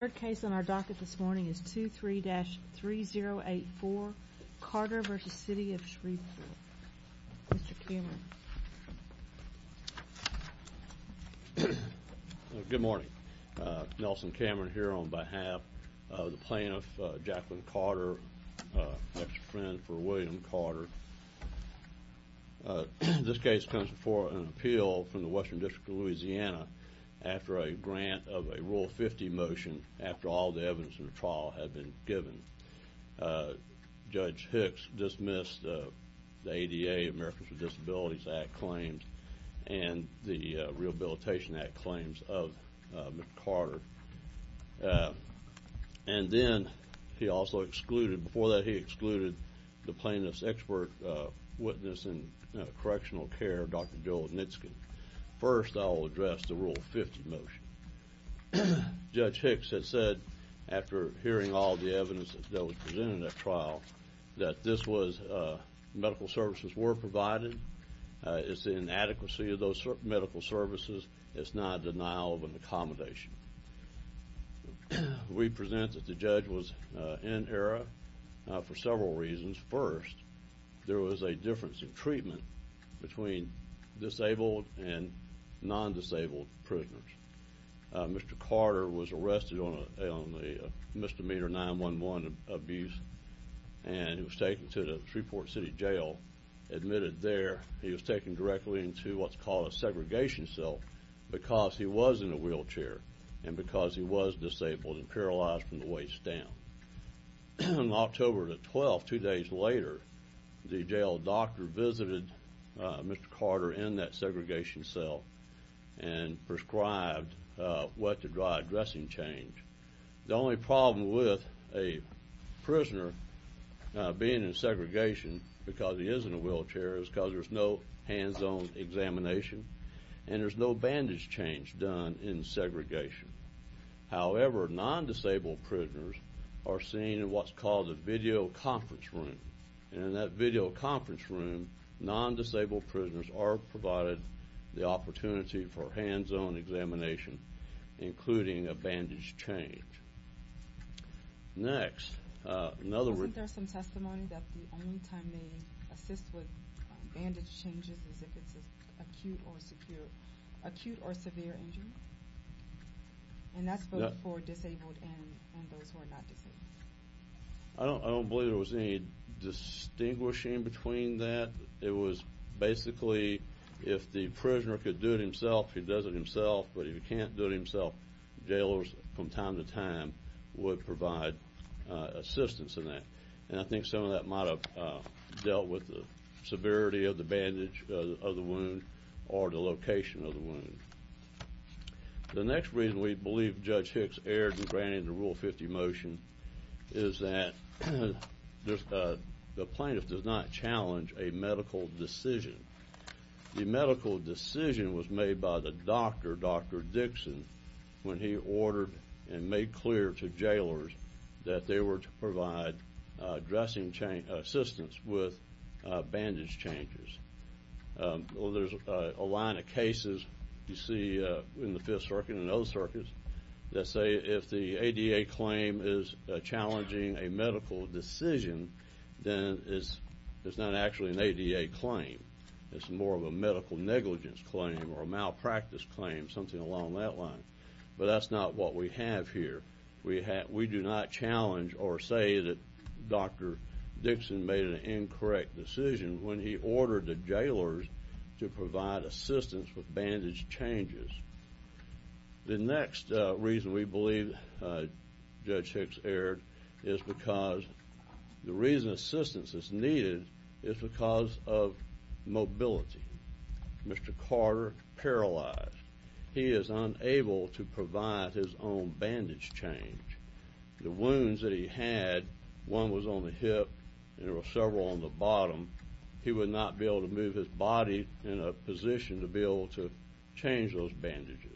The third case on our docket this morning is 23-3084, Carter v. City of Shreveport. Mr. Cameron. Good morning. Nelson Cameron here on behalf of the plaintiff, Jacqueline Carter, ex-friend for William Carter. This case comes before an appeal from the Western District of Louisiana after a grant of a Rule 50 motion after all the evidence in the trial had been given. Judge Hicks dismissed the ADA, Americans with Disabilities Act claims, and the Rehabilitation Act claims of Mr. Carter. And then he also excluded, before that he excluded the plaintiff's expert witness in correctional care, Dr. Joel Nitzke. First I'll address the Rule 50 motion. Judge Hicks had said after hearing all the evidence that was presented in that trial that this was, medical services were provided, it's the inadequacy of those medical services, it's not a denial of an accommodation. We present that the judge was in error for several reasons. First, there was a difference in treatment between disabled and non-disabled prisoners. Mr. Carter was arrested on a misdemeanor 9-1-1 abuse and was taken to the Shreveport City Jail. Admitted there, he was taken directly into what's called a segregation cell because he was in a wheelchair and because he was disabled and paralyzed from the waist down. On October the 12th, two days later, the jail doctor visited Mr. Carter in that segregation cell and prescribed wet to dry dressing change. The only problem with a prisoner being in segregation because he is in a wheelchair is because there's no hands-on examination and there's no bandage change done in segregation. However, non-disabled prisoners are seen in what's called a video conference room. In that video conference room, non-disabled prisoners are provided the opportunity for hands-on examination including a bandage change. Next. Wasn't there some testimony that the only time they assist with bandage changes is if it's an acute or severe injury? And that's both for disabled and those who are not disabled. I don't believe there was any distinguishing between that. It was basically if the prisoner could do it himself, he does it himself. But if he can't do it himself, jailers from time to time would provide assistance in that. And I think some of that might have dealt with the severity of the bandage of the wound or the location of the wound. The next reason we believe Judge Hicks erred in granting the Rule 50 motion is that the plaintiff does not challenge a medical decision. The medical decision was made by the doctor, Dr. Dixon, when he ordered and made clear to jailers that they were to provide dressing assistance with bandage changes. There's a line of cases you see in the Fifth Circuit and other circuits that say if the ADA claim is challenging a medical decision, then it's not actually an ADA claim. It's more of a medical negligence claim or a malpractice claim, something along that line. But that's not what we have here. We do not challenge or say that Dr. Dixon made an incorrect decision when he ordered the jailers to provide assistance with bandage changes. The next reason we believe Judge Hicks erred is because the reason assistance is needed is because of mobility. Mr. Carter paralyzed. He is unable to provide his own bandage change. The wounds that he had, one was on the hip and there were several on the bottom. He would not be able to move his body in a position to be able to change those bandages.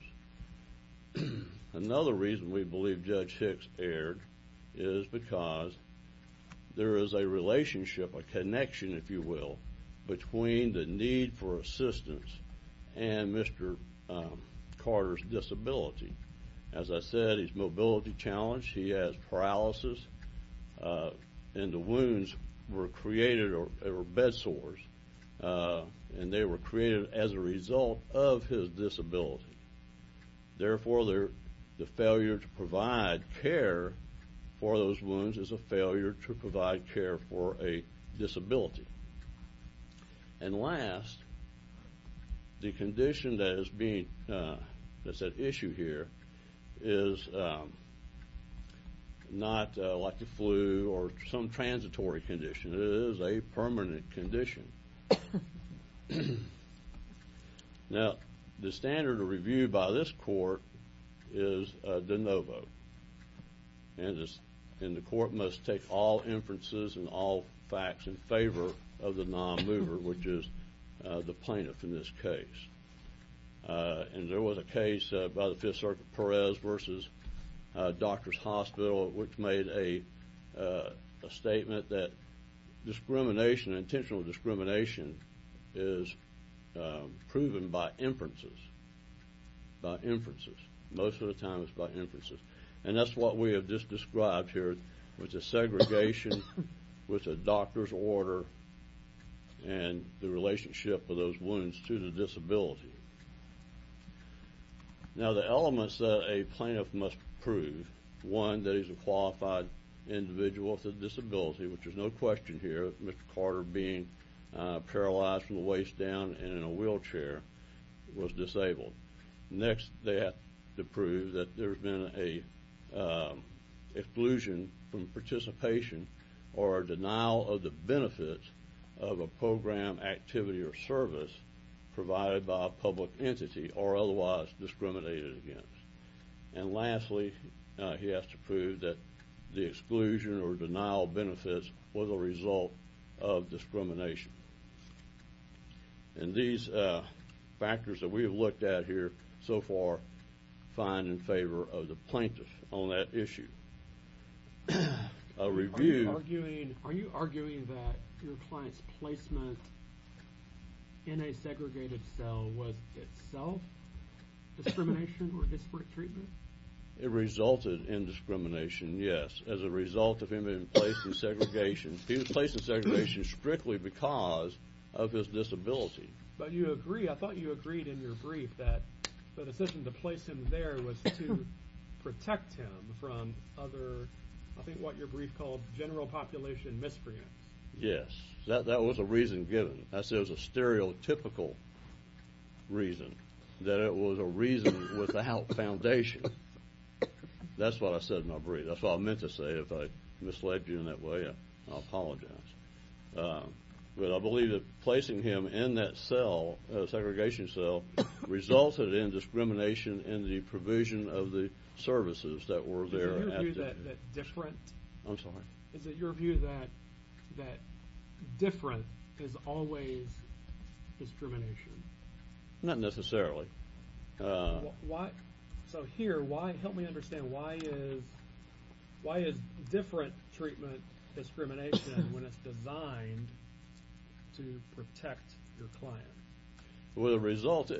Another reason we believe Judge Hicks erred is because there is a relationship, a connection, if you will, between the need for assistance and Mr. Carter's disability. As I said, his mobility challenged. He has paralysis, and the wounds were created or bed sores, and they were created as a result of his disability. Therefore, the failure to provide care for those wounds is a failure to provide care for a disability. And last, the condition that is at issue here is not like the flu or some transitory condition. It is a permanent condition. Now, the standard of review by this court is de novo, and the court must take all inferences and all facts in favor of the non-mover, which is the plaintiff in this case. And there was a case by the Fifth Circuit, Perez v. Doctors Hospital, which made a statement that discrimination, intentional discrimination, is proven by inferences, by inferences. Most of the time, it's by inferences. And that's what we have just described here, which is segregation with a doctor's order and the relationship of those wounds to the disability. Now, the elements that a plaintiff must prove, one, that he's a qualified individual with a disability, which is no question here, Mr. Carter being paralyzed from the waist down and in a wheelchair, was disabled. Next, they have to prove that there's been an exclusion from participation or a denial of the benefits of a program, activity, or service provided by a public entity or otherwise discriminated against. And lastly, he has to prove that the exclusion or denial of benefits was a result of discrimination. And these factors that we have looked at here so far find in favor of the plaintiff on that issue. A review- Are you arguing that your client's placement in a segregated cell was itself discrimination or disparate treatment? It resulted in discrimination, yes, as a result of him being placed in segregation. He was placed in segregation strictly because of his disability. But you agree- I thought you agreed in your brief that the decision to place him there was to protect him from other- I think what your brief called general population miscreants. Yes, that was a reason given. I said it was a stereotypical reason, that it was a reason without foundation. That's what I said in my brief. That's what I meant to say. If I misled you in that way, I apologize. But I believe that placing him in that cell, that segregation cell, resulted in discrimination in the provision of the services that were there at the time. Is it your view that different is always discrimination? Not necessarily. So here, help me understand. Why is different treatment discrimination when it's designed to protect your client? As a result,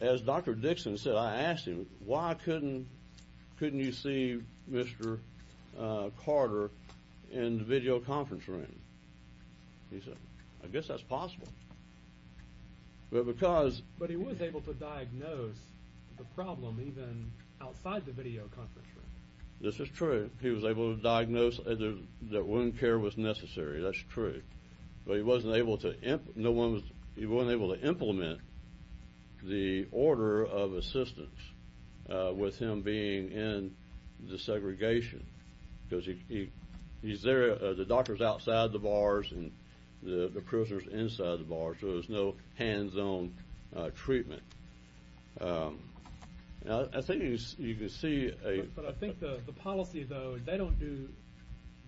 as Dr. Dixon said, I asked him, why couldn't you see Mr. Carter in the video conference room? He said, I guess that's possible. But because- But he was able to diagnose the problem even outside the video conference room. This is true. He was able to diagnose that wound care was necessary. That's true. But he wasn't able to implement the order of assistance with him being in the segregation. Because he's there, the doctor's outside the bars and the prisoner's inside the bars, so there's no hands-on treatment. I think you can see- But I think the policy, though, they don't do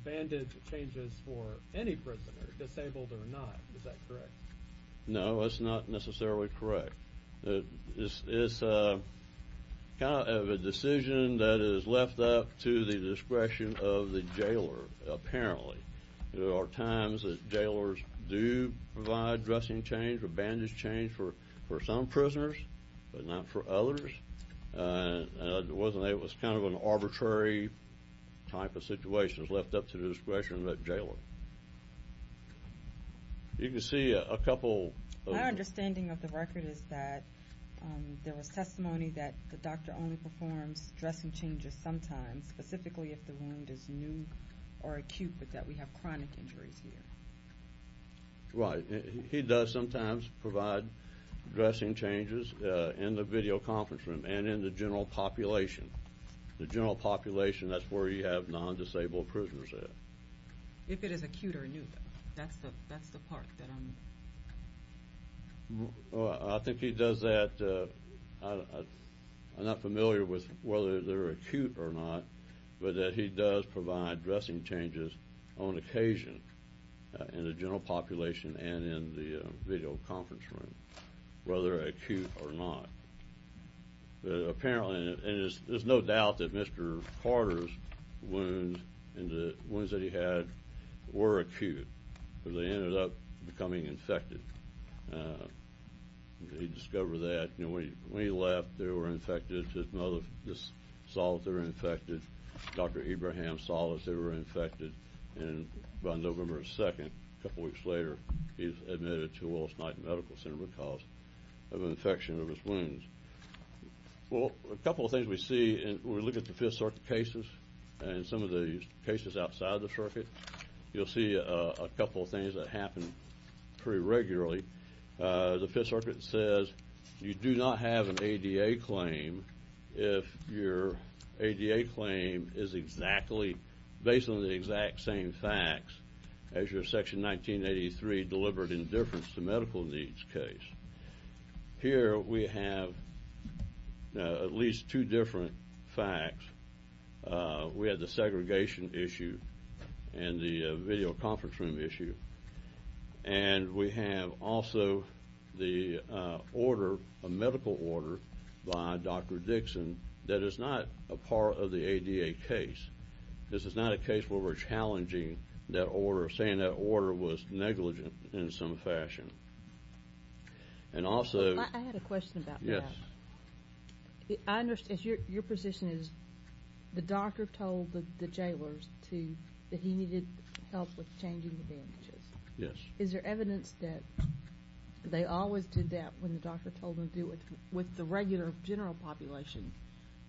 bandage changes for any prisoner, disabled or not. Is that correct? No, that's not necessarily correct. It's kind of a decision that is left up to the discretion of the jailer, apparently. There are times that jailers do provide dressing change or bandage change for some prisoners but not for others. It was kind of an arbitrary type of situation. It was left up to the discretion of that jailer. You can see a couple- My understanding of the record is that there was testimony that the doctor only performs dressing changes sometimes, specifically if the wound is new or acute but that we have chronic injuries here. Right. He does sometimes provide dressing changes in the video conference room and in the general population. The general population, that's where you have non-disabled prisoners there. If it is acute or new, though, that's the part that I'm- I think he does that- I'm not familiar with whether they're acute or not, but that he does provide dressing changes on occasion in the general population and in the video conference room, whether acute or not. Apparently, and there's no doubt that Mr. Carter's wounds and the wounds that he had were acute, but they ended up becoming infected. He discovered that when he left, they were infected. His mother just saw that they were infected. Dr. Abraham saw that they were infected, and by November 2nd, a couple weeks later, he was admitted to Willis-Knighton Medical Center because of an infection of his wounds. Well, a couple of things we see when we look at the Fifth Circuit cases and some of the cases outside the circuit, you'll see a couple of things that happen pretty regularly. The Fifth Circuit says you do not have an ADA claim if your ADA claim is exactly- based on the exact same facts as your Section 1983 deliberate indifference to medical needs case. Here we have at least two different facts. We have the segregation issue and the video conference room issue, and we have also the order, a medical order by Dr. Dixon that is not a part of the ADA case. This is not a case where we're challenging that order or saying that order was negligent in some fashion. And also- I had a question about that. Yes. I understand. Your position is the doctor told the jailers that he needed help with changing the bandages. Yes. Is there evidence that they always did that when the doctor told them to do it with the regular general population,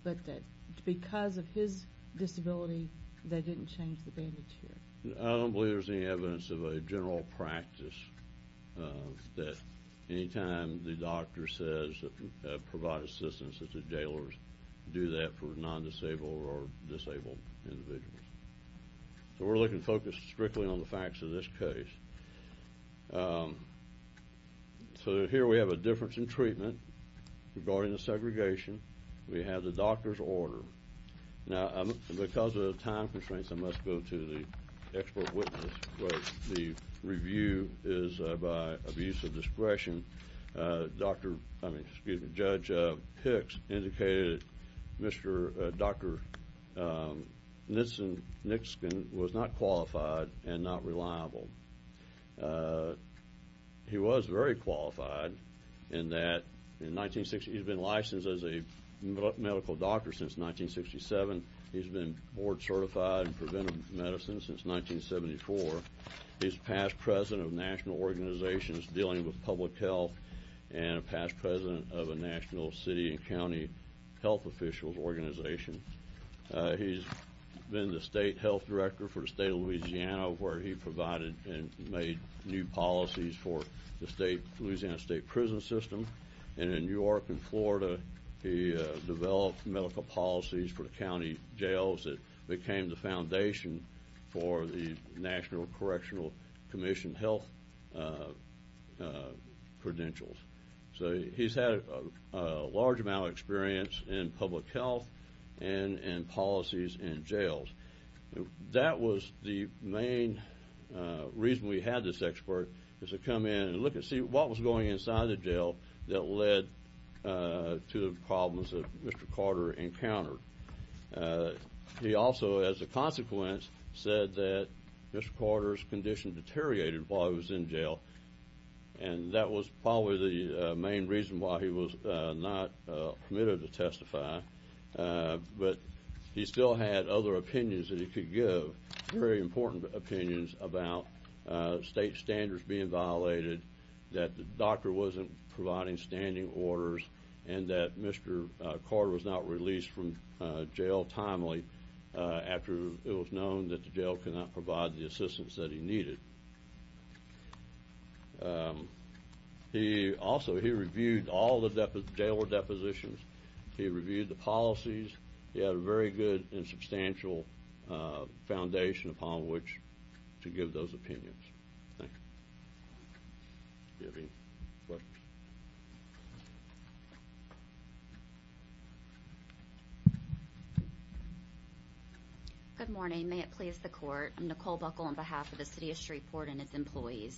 but that because of his disability they didn't change the bandage here? I don't believe there's any evidence of a general practice that any time the doctor says provide assistance, that the jailers do that for non-disabled or disabled individuals. So we're looking to focus strictly on the facts of this case. So here we have a difference in treatment regarding the segregation. We have the doctor's order. Now, because of time constraints, I must go to the expert witness, but the review is by abuse of discretion. Judge Hicks indicated Dr. Nixon was not qualified and not reliable. He was very qualified in that he's been licensed as a medical doctor since 1967. He's been board certified in preventive medicine since 1974. He's past president of national organizations dealing with public health and a past president of a national city and county health officials organization. He's been the state health director for the state of Louisiana, where he provided and made new policies for the state of Louisiana state prison system. And in New York and Florida, he developed medical policies for the county jails that became the foundation for the National Correctional Commission health credentials. So he's had a large amount of experience in public health and in policies in jails. That was the main reason we had this expert, was to come in and look and see what was going on inside the jail that led to the problems that Mr. Carter encountered. He also, as a consequence, said that Mr. Carter's condition deteriorated while he was in jail, and that was probably the main reason why he was not permitted to testify. But he still had other opinions that he could give, very important opinions about state standards being violated, that the doctor wasn't providing standing orders, and that Mr. Carter was not released from jail timely after it was known that the jail could not provide the assistance that he needed. Also, he reviewed all the jailer depositions. He reviewed the policies. He had a very good and substantial foundation upon which to give those opinions. Thank you. Do you have any questions? Good morning. May it please the Court. I'm Nicole Buckle on behalf of the city of Shreveport and its employees.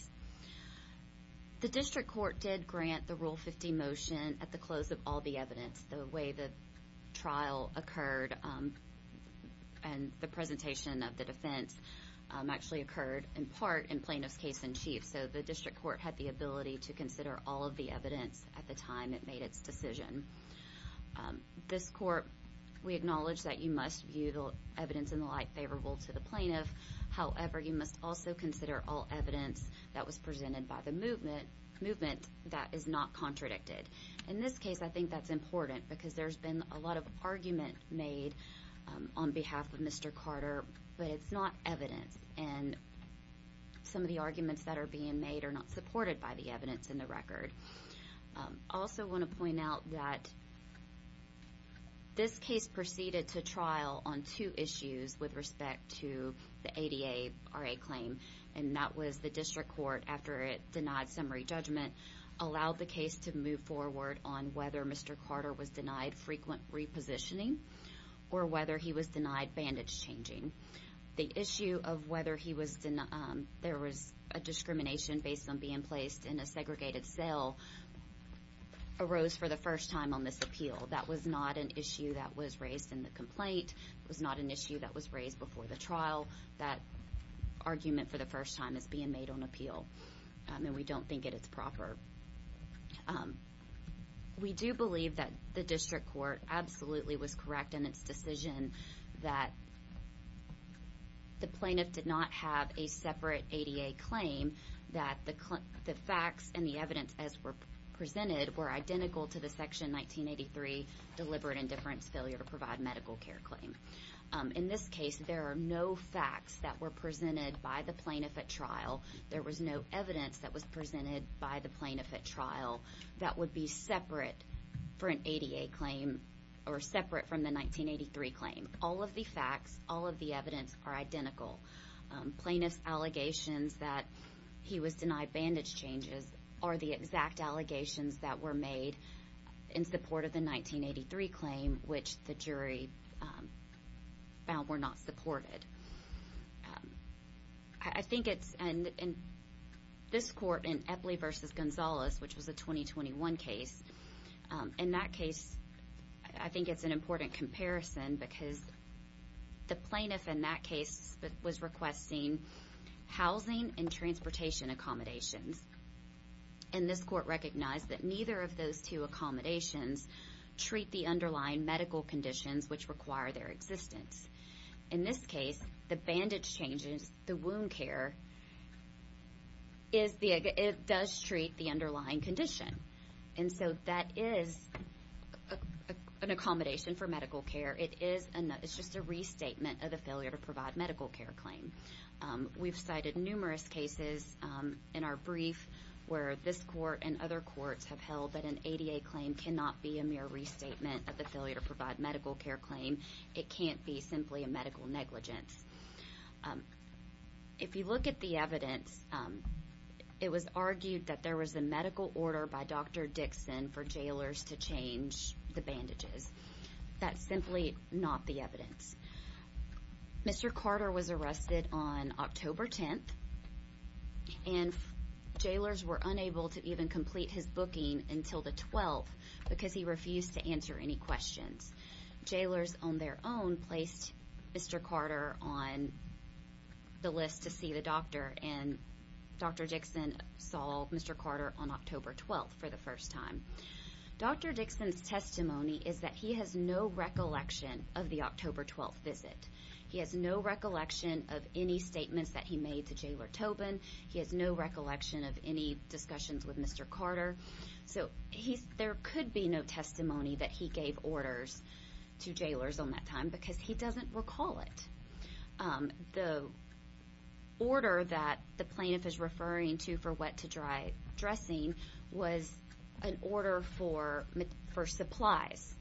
The district court did grant the Rule 50 motion at the close of all the evidence, the way the trial occurred and the presentation of the defense actually occurred, in part, in plaintiff's case in chief. So the district court had the ability to consider all of the evidence at the time it made its decision. This court, we acknowledge that you must view the evidence in the light favorable to the plaintiff. However, you must also consider all evidence that was presented by the movement that is not contradicted. In this case, I think that's important because there's been a lot of argument made on behalf of Mr. Carter, but it's not evidence, and some of the arguments that are being made are not supported by the evidence in the record. I also want to point out that this case proceeded to trial on two issues with respect to the ADA RA claim, and that was the district court, after it denied summary judgment, allowed the case to move forward on whether Mr. Carter was denied frequent repositioning or whether he was denied bandage changing. The issue of whether there was a discrimination based on being placed in a segregated cell arose for the first time on this appeal. That was not an issue that was raised in the complaint. It was not an issue that was raised before the trial. That argument for the first time is being made on appeal, and we don't think it is proper. We do believe that the district court absolutely was correct in its decision that the plaintiff did not have a separate ADA claim, that the facts and the evidence as presented were identical to the Section 1983 deliberate indifference failure to provide medical care claim. In this case, there are no facts that were presented by the plaintiff at trial. There was no evidence that was presented by the plaintiff at trial that would be separate for an ADA claim or separate from the 1983 claim. All of the facts, all of the evidence are identical. Plaintiff's allegations that he was denied bandage changes are the exact allegations that were made in support of the 1983 claim, which the jury found were not supported. I think it's in this court in Epley v. Gonzalez, which was a 2021 case. In that case, I think it's an important comparison because the plaintiff in that case was requesting housing and transportation accommodations. And this court recognized that neither of those two accommodations treat the underlying medical conditions which require their existence. In this case, the bandage changes, the wound care, it does treat the underlying condition. And so that is an accommodation for medical care. It's just a restatement of the failure to provide medical care claim. We've cited numerous cases in our brief where this court and other courts have held that an ADA claim cannot be a mere restatement of the failure to provide medical care claim. It can't be simply a medical negligence. If you look at the evidence, it was argued that there was a medical order by Dr. Dixon for jailers to change the bandages. That's simply not the evidence. Mr. Carter was arrested on October 10th, and jailers were unable to even complete his booking until the 12th because he refused to answer any questions. Jailers on their own placed Mr. Carter on the list to see the doctor, and Dr. Dixon saw Mr. Carter on October 12th for the first time. Dr. Dixon's testimony is that he has no recollection of the October 12th visit. He has no recollection of any statements that he made to Jailer Tobin. He has no recollection of any discussions with Mr. Carter. So there could be no testimony that he gave orders to jailers on that time because he doesn't recall it. The order that the plaintiff is referring to for wet-to-dry dressing was an order for supplies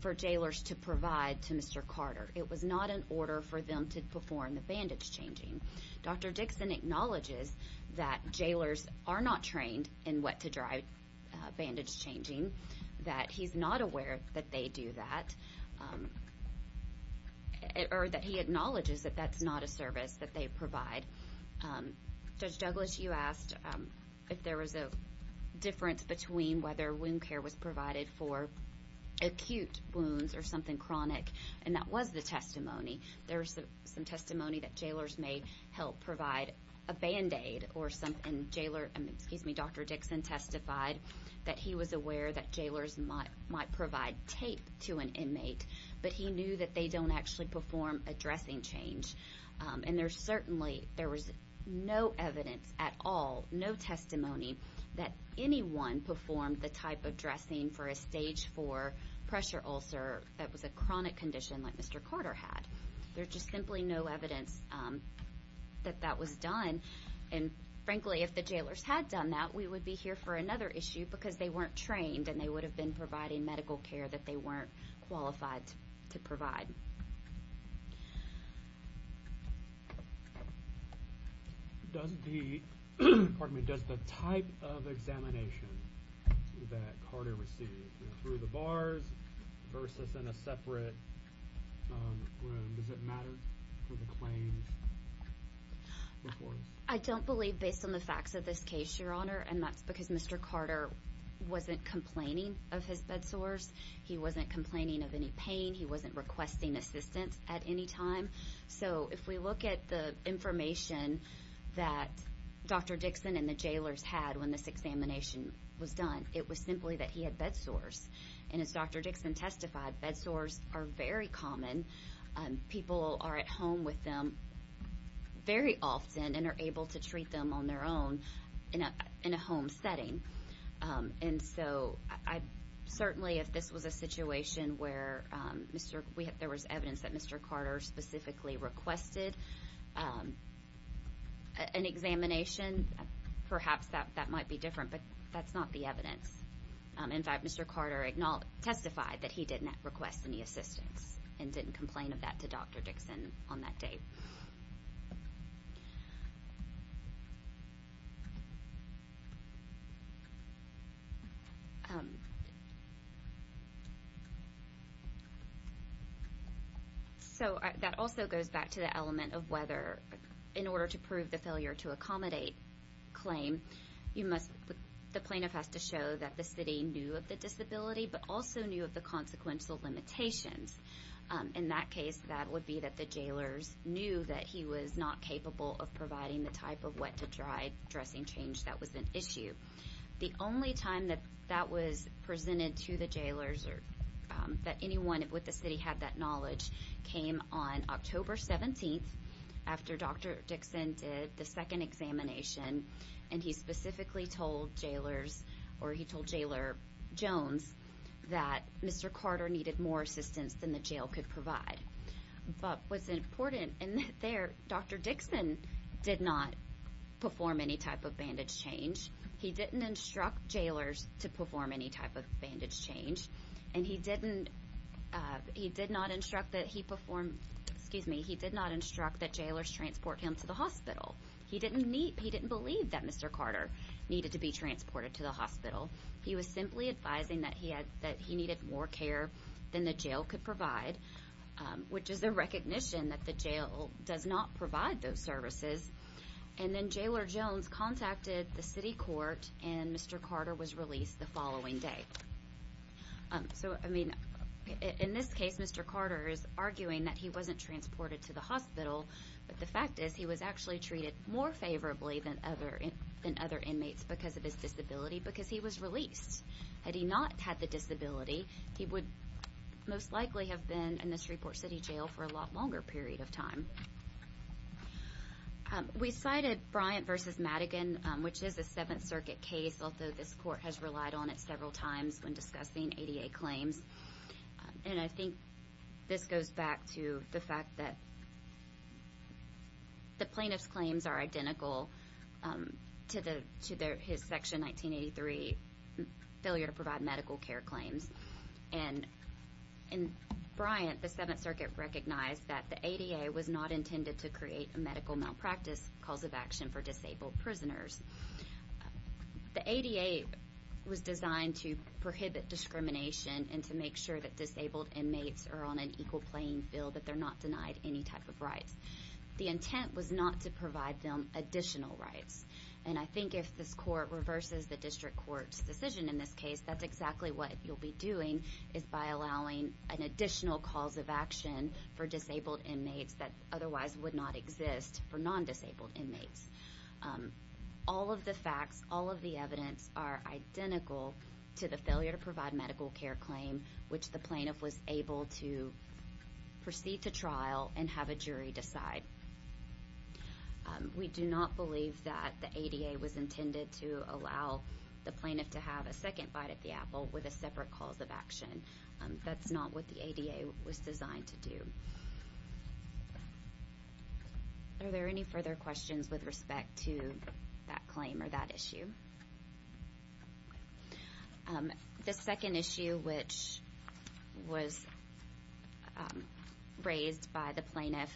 for jailers to provide to Mr. Carter. It was not an order for them to perform the bandage changing. Dr. Dixon acknowledges that jailers are not trained in wet-to-dry bandage changing, that he's not aware that they do that, or that he acknowledges that that's not a service that they provide. Judge Douglas, you asked if there was a difference between whether wound care was provided for acute wounds or something chronic, and that was the testimony. There was some testimony that jailers may help provide a Band-Aid, and Dr. Dixon testified that he was aware that jailers might provide tape to an inmate, but he knew that they don't actually perform a dressing change. And there certainly, there was no evidence at all, no testimony, that anyone performed the type of dressing for a Stage 4 pressure ulcer that was a chronic condition like Mr. Carter had. There's just simply no evidence that that was done, and frankly, if the jailers had done that, we would be here for another issue because they weren't trained, and they would have been providing medical care that they weren't qualified to provide. Does the type of examination that Carter received, through the bars versus in a separate room, does it matter for the claims? I don't believe based on the facts of this case, Your Honor, and that's because Mr. Carter wasn't complaining of his bed sores. He wasn't complaining of any pain. He wasn't requesting assistance at any time. So if we look at the information that Dr. Dixon and the jailers had when this examination was done, it was simply that he had bed sores. And as Dr. Dixon testified, bed sores are very common. People are at home with them very often and are able to treat them on their own in a home setting. And so, certainly if this was a situation where there was evidence that Mr. Carter specifically requested an examination, perhaps that might be different, but that's not the evidence. In fact, Mr. Carter testified that he did not request any assistance and didn't complain of that to Dr. Dixon on that day. So that also goes back to the element of whether, in order to prove the failure to accommodate claim, the plaintiff has to show that the city knew of the disability, but also knew of the consequential limitations. In that case, that would be that the jailers knew that he was not capable of providing the type of wet-to-dry dressing change that was an issue. The only time that that was presented to the jailers, or that anyone with the city had that knowledge, came on October 17th after Dr. Dixon did the second examination. And he specifically told jailers, or he told Jailer Jones, that Mr. Carter needed more assistance than the jail could provide. But what's important in there, Dr. Dixon did not perform any type of bandage change. He didn't instruct jailers to perform any type of bandage change. And he did not instruct that he perform, excuse me, he did not instruct that jailers transport him to the hospital. He didn't believe that Mr. Carter needed to be transported to the hospital. He was simply advising that he needed more care than the jail could provide, which is a recognition that the jail does not provide those services. And then Jailer Jones contacted the city court, and Mr. Carter was released the following day. So, I mean, in this case, Mr. Carter is arguing that he wasn't transported to the hospital. But the fact is, he was actually treated more favorably than other inmates because of his disability, because he was released. Had he not had the disability, he would most likely have been in the Shreveport City Jail for a lot longer period of time. We cited Bryant v. Madigan, which is a Seventh Circuit case, although this court has relied on it several times when discussing ADA claims. And I think this goes back to the fact that the plaintiff's claims are identical to his Section 1983 failure to provide medical care claims. And in Bryant, the Seventh Circuit recognized that the ADA was not intended to create a medical malpractice cause of action for disabled prisoners. The ADA was designed to prohibit discrimination and to make sure that disabled inmates are on an equal playing field, that they're not denied any type of rights. The intent was not to provide them additional rights. And I think if this court reverses the district court's decision in this case, that's exactly what you'll be doing, is by allowing an additional cause of action for disabled inmates that otherwise would not exist for non-disabled inmates. All of the facts, all of the evidence are identical to the failure to provide medical care claim, which the plaintiff was able to proceed to trial and have a jury decide. We do not believe that the ADA was intended to allow the plaintiff to have a second bite at the apple with a separate cause of action. That's not what the ADA was designed to do. Are there any further questions with respect to that claim or that issue? The second issue which was raised by the plaintiff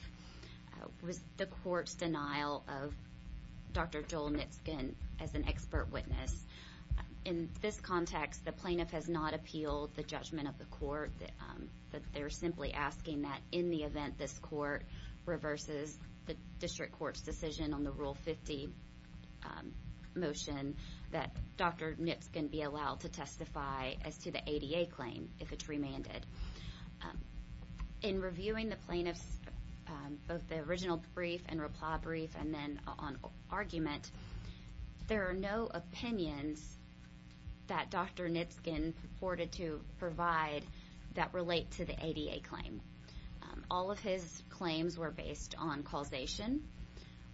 was the court's denial of Dr. Joel Nitsken as an expert witness. In this context, the plaintiff has not appealed the judgment of the court. They're simply asking that in the event this court reverses the district court's decision on the Rule 50 motion, that Dr. Nitsken be allowed to testify as to the ADA claim if it's remanded. In reviewing the plaintiff's, both the original brief and reply brief and then on argument, there are no opinions that Dr. Nitsken purported to provide that relate to the ADA claim. All of his claims were based on causation,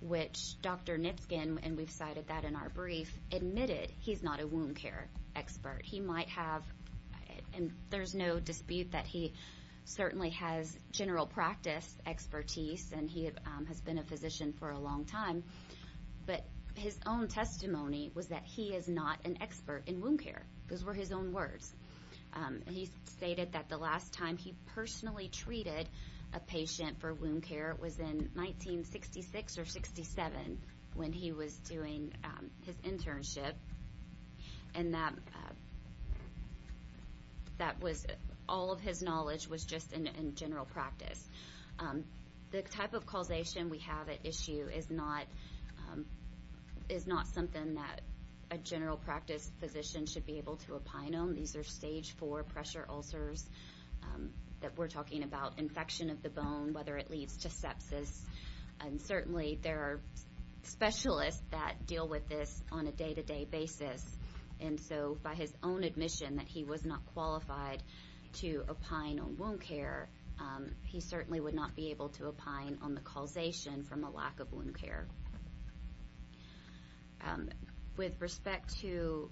which Dr. Nitsken, and we've cited that in our brief, admitted he's not a wound care expert. He might have, and there's no dispute that he certainly has general practice expertise, and he has been a physician for a long time, but his own testimony was that he is not an expert in wound care. Those were his own words. He stated that the last time he personally treated a patient for wound care was in 1966 or 67, when he was doing his internship, and all of his knowledge was just in general practice. The type of causation we have at issue is not something that a general practice physician should be able to opine on. These are stage four pressure ulcers that we're talking about, infection of the bone, whether it leads to sepsis, and certainly there are specialists that deal with this on a day-to-day basis, and so by his own admission that he was not qualified to opine on wound care, he certainly would not be able to opine on the causation from a lack of wound care. With respect to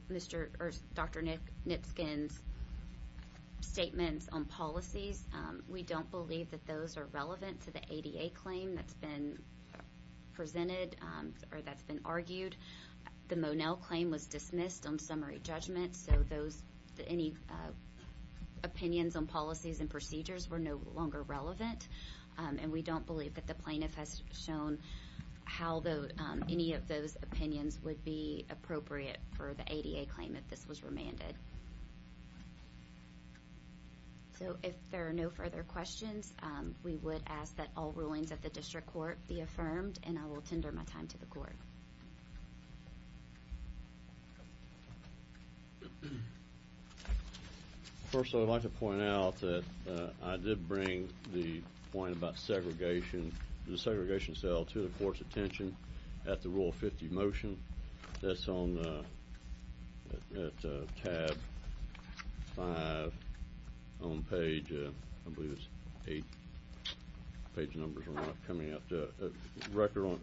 Dr. Nitsken's statements on policies, we don't believe that those are relevant to the ADA claim that's been presented or that's been argued. The Monell claim was dismissed on summary judgment, so any opinions on policies and procedures were no longer relevant, and we don't believe that the plaintiff has shown how any of those opinions would be appropriate for the ADA claim if this was remanded. So if there are no further questions, we would ask that all rulings at the district court be affirmed, and I will tender my time to the court. First, I would like to point out that I did bring the point about segregation, the segregation cell to the court's attention at the Rule 50 motion that's on tab 5 on page, I believe it's eight page numbers are coming up, the record on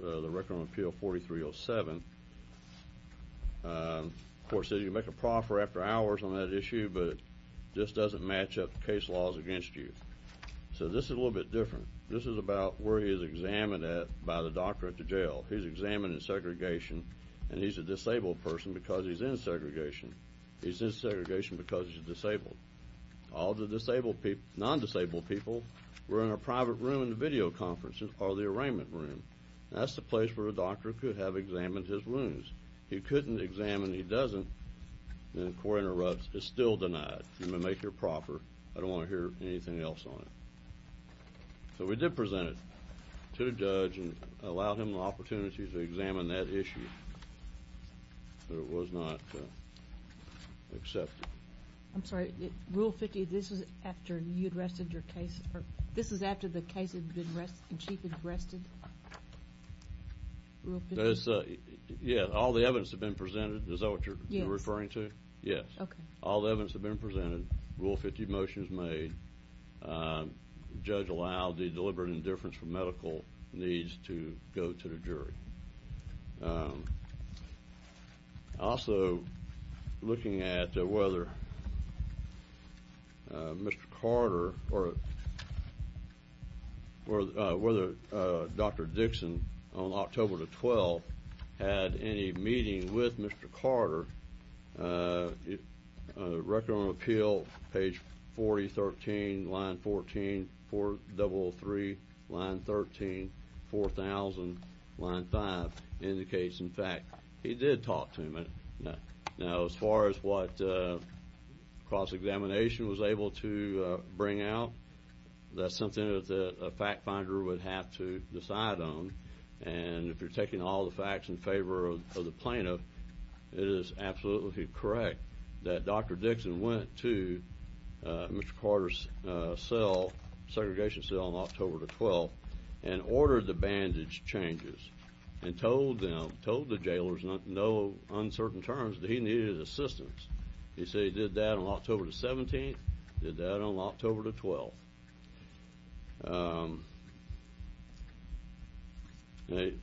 appeal 4307. The court said you make a proffer after hours on that issue, but this doesn't match up case laws against you. So this is a little bit different. This is about where he is examined at by the doctor at the jail. He's examined in segregation, and he's a disabled person because he's in segregation. He's in segregation because he's disabled. All the non-disabled people were in a private room in the video conference or the arraignment room. That's the place where a doctor could have examined his wounds. He couldn't examine. He doesn't, and the court interrupts. It's still denied. You may make your proffer. I don't want to hear anything else on it. So we did present it to the judge and allowed him the opportunity to examine that issue. It was not accepted. I'm sorry. Rule 50, this was after you had rested your case? This was after the case had been rested, the chief had rested? Yes. All the evidence had been presented. Is that what you're referring to? Yes. Okay. All the evidence had been presented. Rule 50 motion was made. The judge allowed the deliberate indifference for medical needs to go to the jury. Also, looking at whether Mr. Carter or whether Dr. Dixon on October the 12th had any meeting with Mr. Carter, record on appeal, page 40, 13, line 14, 003, line 13, 4000, line 5, indicates, in fact, he did talk to him. Now, as far as what cross-examination was able to bring out, that's something that a fact finder would have to decide on. And if you're taking all the facts in favor of the plaintiff, it is absolutely correct that Dr. Dixon went to Mr. Carter's cell, segregation cell, on October the 12th and ordered the bandage changes and told them, told the jailers, in no uncertain terms, that he needed assistance. He said he did that on October the 17th, did that on October the 12th. The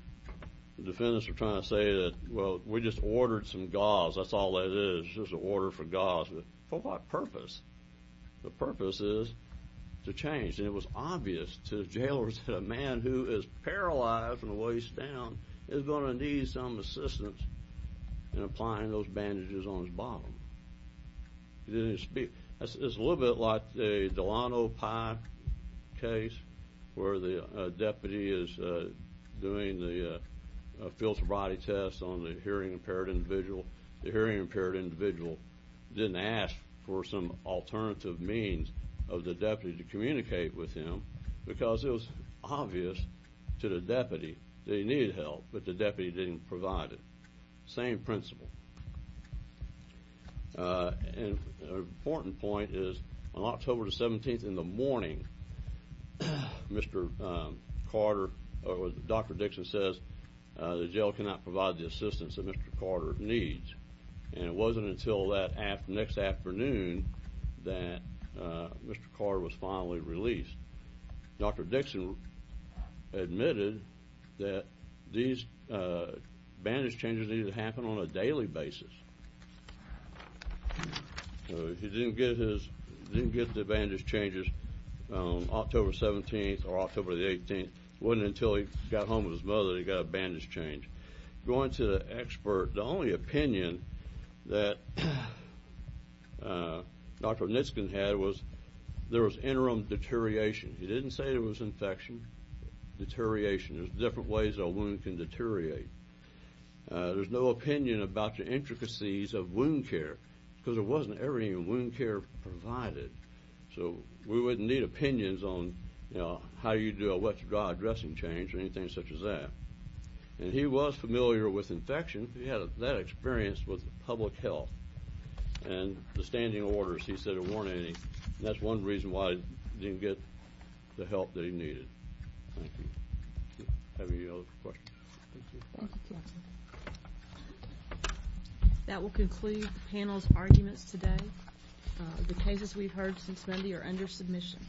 defendants are trying to say that, well, we just ordered some gauze. That's all that is, is just an order for gauze. But for what purpose? The purpose is to change. And it was obvious to the jailers that a man who is paralyzed from the waist down is going to need some assistance in applying those bandages on his bottom. He didn't speak. It's a little bit like the Delano Pike case where the deputy is doing the filter body test on the hearing-impaired individual. The hearing-impaired individual didn't ask for some alternative means of the deputy to communicate with him because it was obvious to the deputy that he needed help, but the deputy didn't provide it. Same principle. And an important point is on October the 17th in the morning, Mr. Carter, or Dr. Dixon says, the jail cannot provide the assistance that Mr. Carter needs. And it wasn't until that next afternoon that Mr. Carter was finally released. Dr. Dixon admitted that these bandage changes needed to happen on a daily basis. He didn't get the bandage changes on October 17th or October the 18th. It wasn't until he got home with his mother that he got a bandage change. Going to the expert, the only opinion that Dr. Nitzkan had was there was interim deterioration. He didn't say there was infection. Deterioration, there's different ways a wound can deteriorate. There's no opinion about the intricacies of wound care because there wasn't everything in wound care provided. So we wouldn't need opinions on how you do a wet-to-dry dressing change or anything such as that. And he was familiar with infection. He had that experience with public health. And the standing orders, he said, weren't any. And that's one reason why he didn't get the help that he needed. Thank you. Any other questions? Thank you. That will conclude the panel's arguments today. The cases we've heard since Monday are under submission.